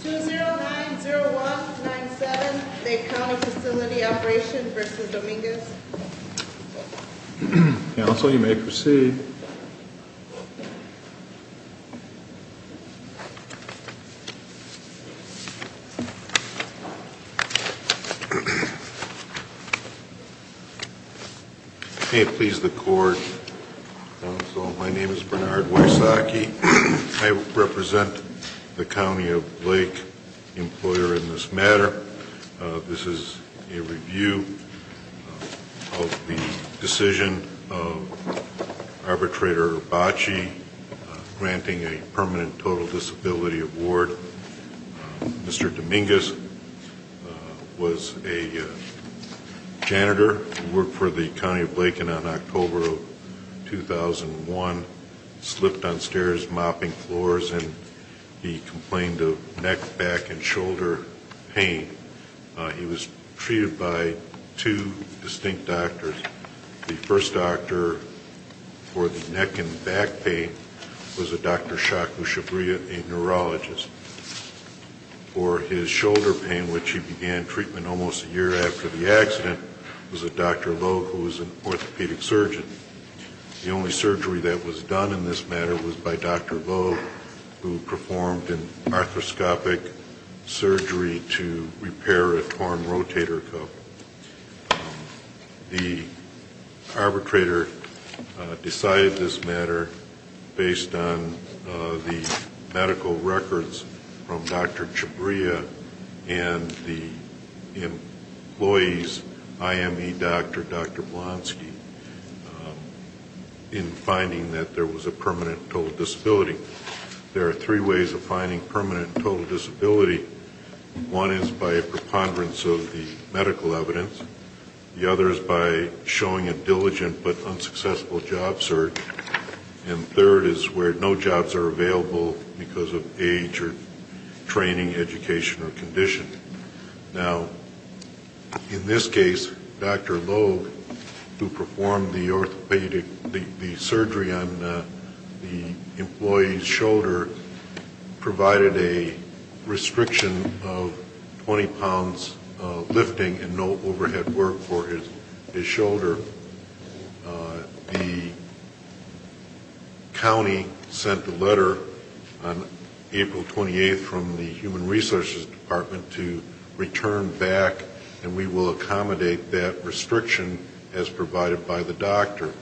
2090197, Dade County Facility Operations v. Dominguez Counsel, you may proceed May it please the Court, Counsel, my name is Bernard Wiersacki I represent the County of Lake, employer in this matter This is a review of the decision of Arbitrator Bacci granting a permanent total disability award Mr. Dominguez was a janitor, worked for the County of Lake in October of 2001 Slipped on stairs, mopping floors, and he complained of neck, back, and shoulder pain He was treated by two distinct doctors The first doctor for the neck and back pain was a Dr. Shaku Shabria, a neurologist For his shoulder pain, which he began treatment almost a year after the accident was a Dr. Lowe, who was an orthopedic surgeon The only surgery that was done in this matter was by Dr. Lowe who performed an arthroscopic surgery to repair a torn rotator cuff The arbitrator decided this matter based on the medical records from Dr. Shabria and the employee's IME doctor, Dr. Blonsky in finding that there was a permanent total disability There are three ways of finding permanent total disability One is by a preponderance of the medical evidence The other is by showing a diligent but unsuccessful job search And third is where no jobs are available because of age or training, education, or condition Now, in this case, Dr. Lowe, who performed the surgery on the employee's shoulder provided a restriction of 20 pounds of lifting and no overhead work for his shoulder The county sent a letter on April 28th from the Human Resources Department to return back and we will accommodate that restriction as provided by the doctor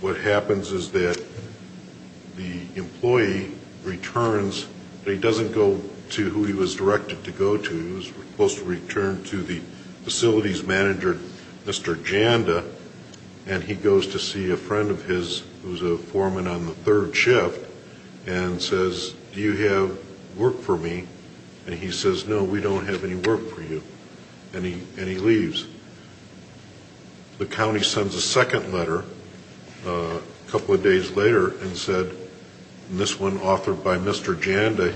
What happens is that the employee returns but he doesn't go to who he was directed to go to He was supposed to return to the facilities manager, Mr. Janda and he goes to see a friend of his who's a foreman on the third shift and says, do you have work for me? And he says, no, we don't have any work for you And he leaves The county sends a second letter a couple of days later and this one authored by Mr. Janda,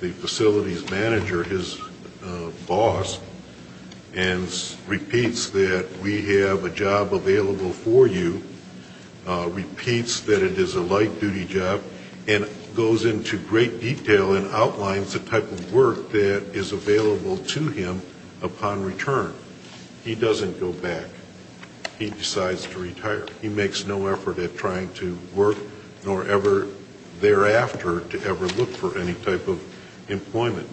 the facilities manager, his boss and repeats that we have a job available for you repeats that it is a light-duty job and goes into great detail and outlines the type of work that is available to him upon return He decides to retire He makes no effort at trying to work nor ever thereafter to ever look for any type of employment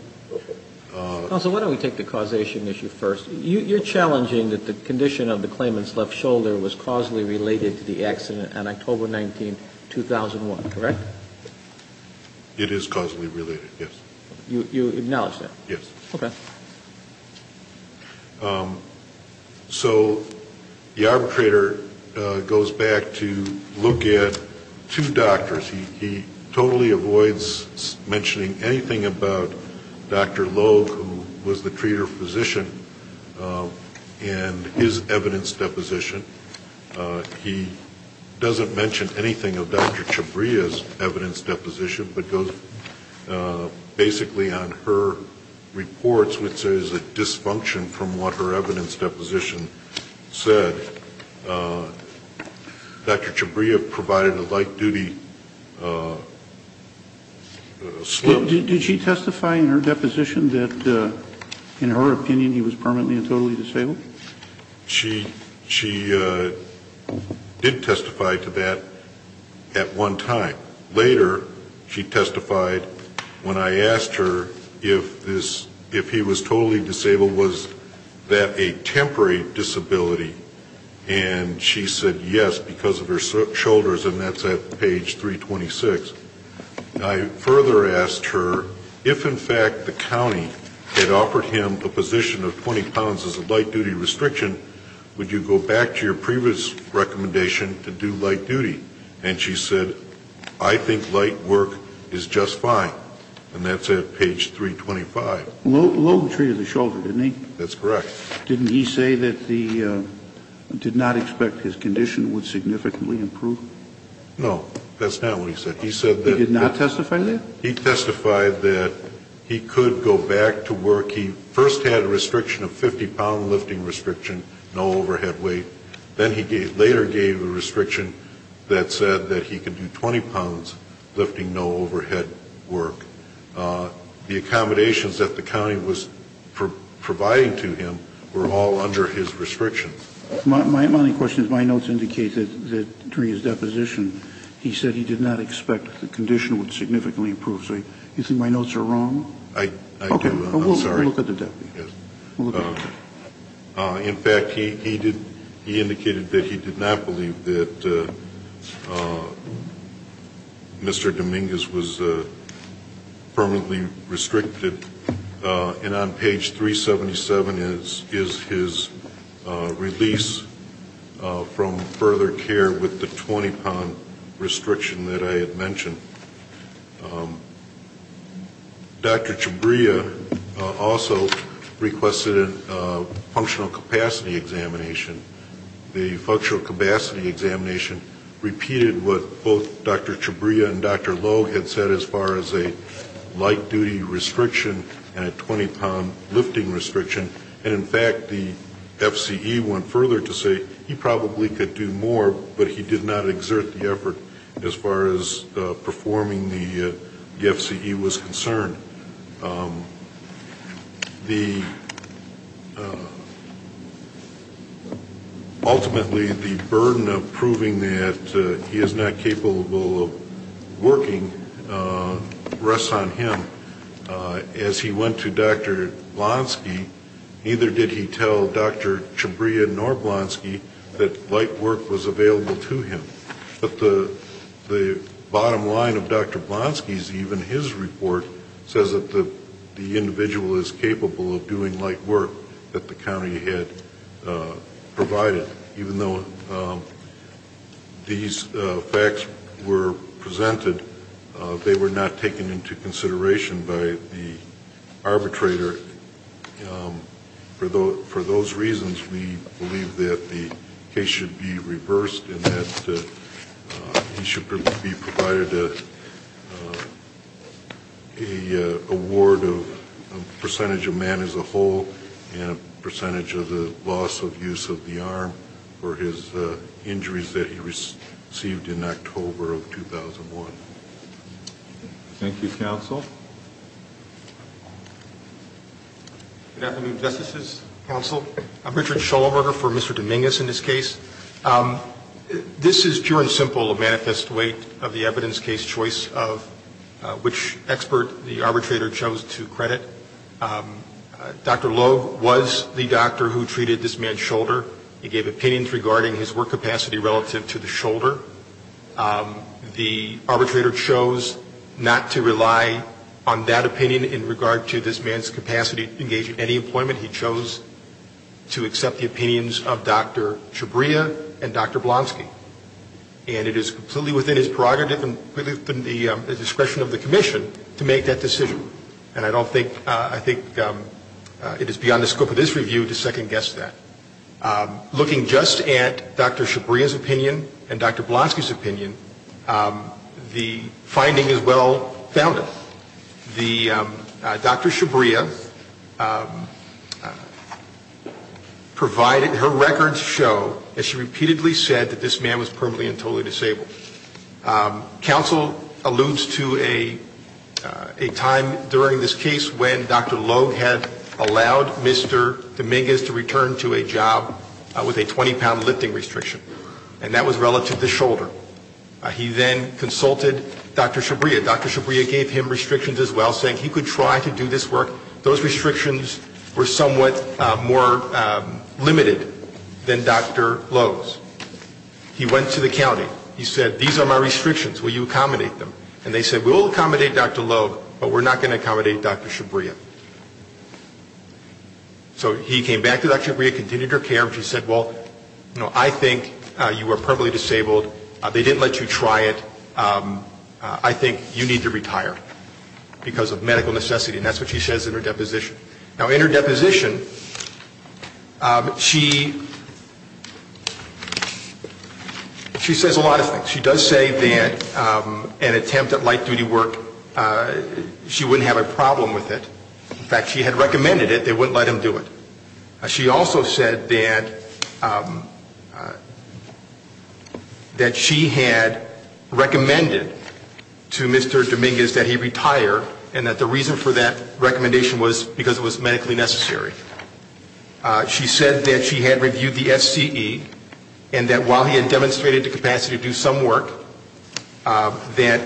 Counsel, why don't we take the causation issue first You're challenging that the condition of the claimant's left shoulder was causally related to the accident on October 19, 2001, correct? It is causally related, yes You acknowledge that? Yes Okay So the arbitrator goes back to look at two doctors He totally avoids mentioning anything about Dr. Logue, who was the treater physician and his evidence deposition He doesn't mention anything of Dr. Chabria's evidence deposition but goes basically on her reports, which is a dysfunction from what her evidence deposition said Dr. Chabria provided a light-duty slip Did she testify in her deposition that, in her opinion, he was permanently and totally disabled? She did testify to that at one time Later, she testified when I asked her if he was totally disabled was that a temporary disability and she said yes because of her shoulders and that's at page 326 I further asked her if, in fact, the county had offered him a position of 20 pounds as a light-duty restriction would you go back to your previous recommendation to do light-duty and she said, I think light work is just fine and that's at page 325 Logue treated the shoulder, didn't he? That's correct Didn't he say that he did not expect his condition would significantly improve? No, that's not what he said He did not testify to that? He testified that he could go back to work He first had a restriction of 50 pound lifting restriction, no overhead weight Then he later gave a restriction that said that he could do 20 pounds lifting, no overhead work The accommodations that the county was providing to him were all under his restriction My only question is, my notes indicate that during his deposition he said he did not expect the condition would significantly improve Do you think my notes are wrong? I'm sorry We'll look at the deputy In fact, he indicated that he did not believe that Mr. Dominguez was permanently restricted and on page 377 is his release from further care with the 20 pound restriction that I had mentioned Dr. Chabria also requested a functional capacity examination The functional capacity examination repeated what both Dr. Chabria and Dr. Logue had said as far as a light duty restriction and a 20 pound lifting restriction In fact, the FCE went further to say he probably could do more but he did not exert the effort as far as performing the FCE was concerned Ultimately, the burden of proving that he is not capable of working rests on him As he went to Dr. Blonsky, neither did he tell Dr. Chabria nor Blonsky that light work was available to him But the bottom line of Dr. Blonsky's, even his report says that the individual is capable of doing light work that the county had provided Even though these facts were presented, they were not taken into consideration by the arbitrator For those reasons, we believe that the case should be reversed and that he should be provided an award of a percentage of man as a whole and a percentage of the loss of use of the arm for his injuries that he received in October of 2001 Thank you, Counsel Good afternoon, Justices, Counsel I'm Richard Schulberger for Mr. Dominguez in this case This is pure and simple a manifest weight of the evidence case choice of which expert the arbitrator chose to credit Dr. Logue was the doctor who treated this man's shoulder The arbitrator chose not to rely on that opinion in regard to this man's capacity to engage in any employment He chose to accept the opinions of Dr. Chabria and Dr. Blonsky And it is completely within his prerogative and within the discretion of the commission to make that decision And I don't think, I think it is beyond the scope of this review to second-guess that Looking just at Dr. Chabria's opinion and Dr. Blonsky's opinion, the finding is well-founded Dr. Chabria provided her records show that she repeatedly said that this man was permanently and totally disabled Counsel alludes to a time during this case when Dr. Logue had allowed Mr. Dominguez to return to a job with a 20-pound lifting restriction And that was relative to the shoulder He then consulted Dr. Chabria Dr. Chabria gave him restrictions as well, saying he could try to do this work Those restrictions were somewhat more limited than Dr. Logue's He went to the county, he said, these are my restrictions, will you accommodate them? And they said, we'll accommodate Dr. Logue, but we're not going to accommodate Dr. Chabria So he came back to Dr. Chabria, continued her care, and she said, well, I think you were permanently disabled They didn't let you try it I think you need to retire because of medical necessity And that's what she says in her deposition Now in her deposition, she says a lot of things She does say that an attempt at light-duty work, she wouldn't have a problem with it In fact, she had recommended it, they wouldn't let him do it She also said that she had recommended to Mr. Dominguez that he retire And that the reason for that recommendation was because it was medically necessary She said that she had reviewed the SCE, and that while he had demonstrated the capacity to do some work That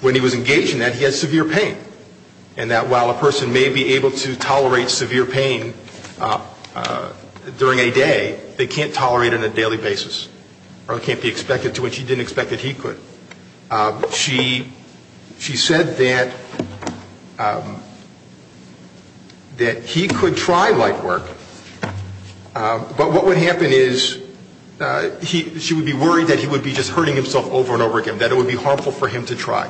when he was engaged in that, he had severe pain And that while a person may be able to tolerate severe pain during a day They can't tolerate it on a daily basis Or it can't be expected to, and she didn't expect that he could She said that he could try light work But what would happen is she would be worried that he would be just hurting himself over and over again That it would be harmful for him to try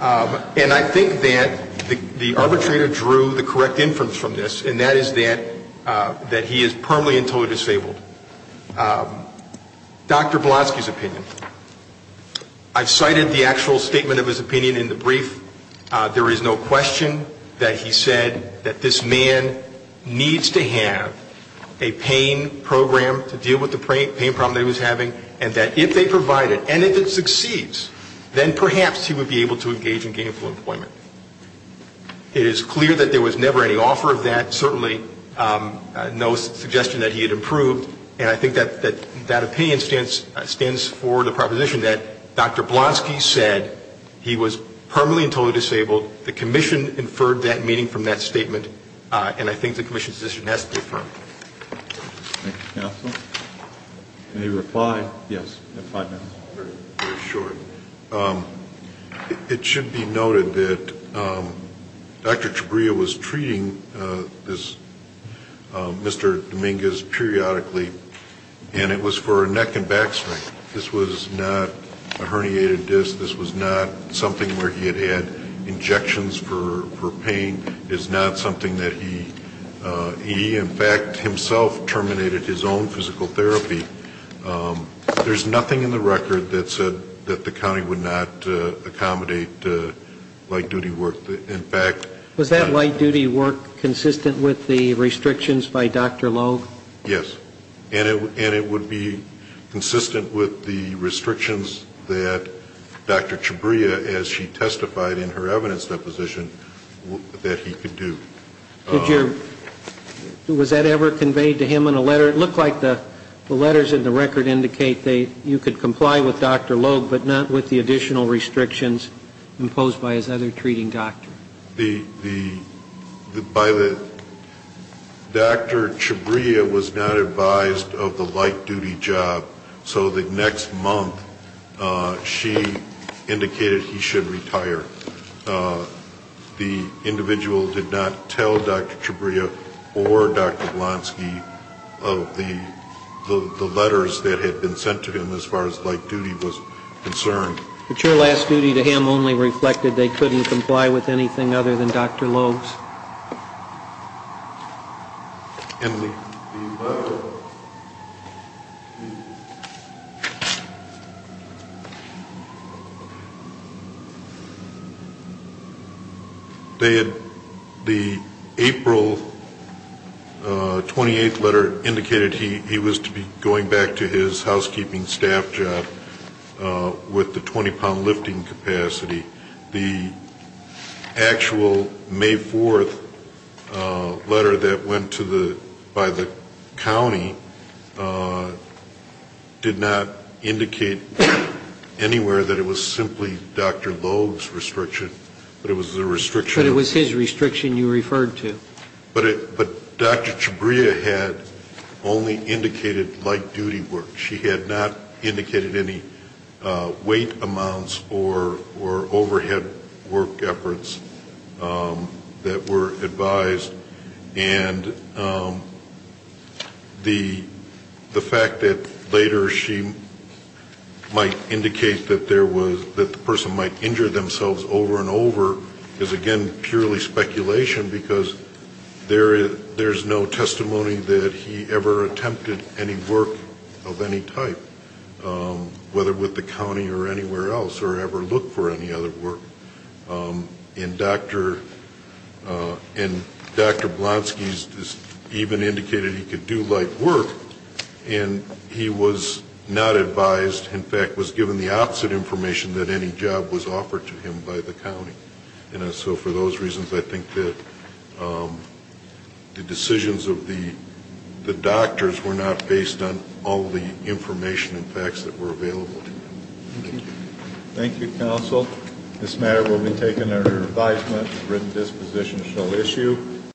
And I think that the arbitrator drew the correct inference from this And that is that he is permanently and totally disabled Dr. Blotsky's opinion I've cited the actual statement of his opinion in the brief There is no question that he said that this man needs to have a pain program to deal with the pain problem that he was having And that if they provide it, and if it succeeds, then perhaps he would be able to engage in gainful employment It is clear that there was never any offer of that There was certainly no suggestion that he had improved And I think that opinion stands for the proposition that Dr. Blotsky said he was permanently and totally disabled The commission inferred that meaning from that statement And I think the commission's decision has to be affirmed Thank you, counsel Any reply? Yes, I have five minutes Very short It should be noted that Dr. Chabria was treating Mr. Dominguez periodically And it was for a neck and back strain This was not a herniated disc This was not something where he had had injections for pain It is not something that he, in fact, himself terminated his own physical therapy There is nothing in the record that said that the county would not accommodate light duty work Was that light duty work consistent with the restrictions by Dr. Logue? Yes, and it would be consistent with the restrictions that Dr. Chabria, as she testified in her evidence deposition, that he could do Was that ever conveyed to him in a letter? It looked like the letters in the record indicate that you could comply with Dr. Logue, but not with the additional restrictions imposed by his other treating doctor Dr. Chabria was not advised of the light duty job So the next month, she indicated he should retire The individual did not tell Dr. Chabria or Dr. Blonsky of the letters that had been sent to him as far as light duty was concerned But your last duty to him only reflected they couldn't comply with anything other than Dr. Logue's The April 28th letter indicated he was to be going back to his housekeeping staff job with the 20 pound lifting capacity The actual May 4th letter that went by the county did not indicate anywhere that it was simply Dr. Logue's restriction But it was his restriction you referred to But Dr. Chabria had only indicated light duty work She had not indicated any weight amounts or overhead work efforts that were advised And the fact that later she might indicate that the person might injure themselves over and over is again purely speculation Because there is no testimony that he ever attempted any work of any type Whether with the county or anywhere else or ever looked for any other work And Dr. Blonsky even indicated he could do light work And he was not advised, in fact was given the opposite information that any job was offered to him by the county And so for those reasons I think that the decisions of the doctors were not based on all the information and facts that were available Thank you council This matter will be taken under advisement and written disposition shall issue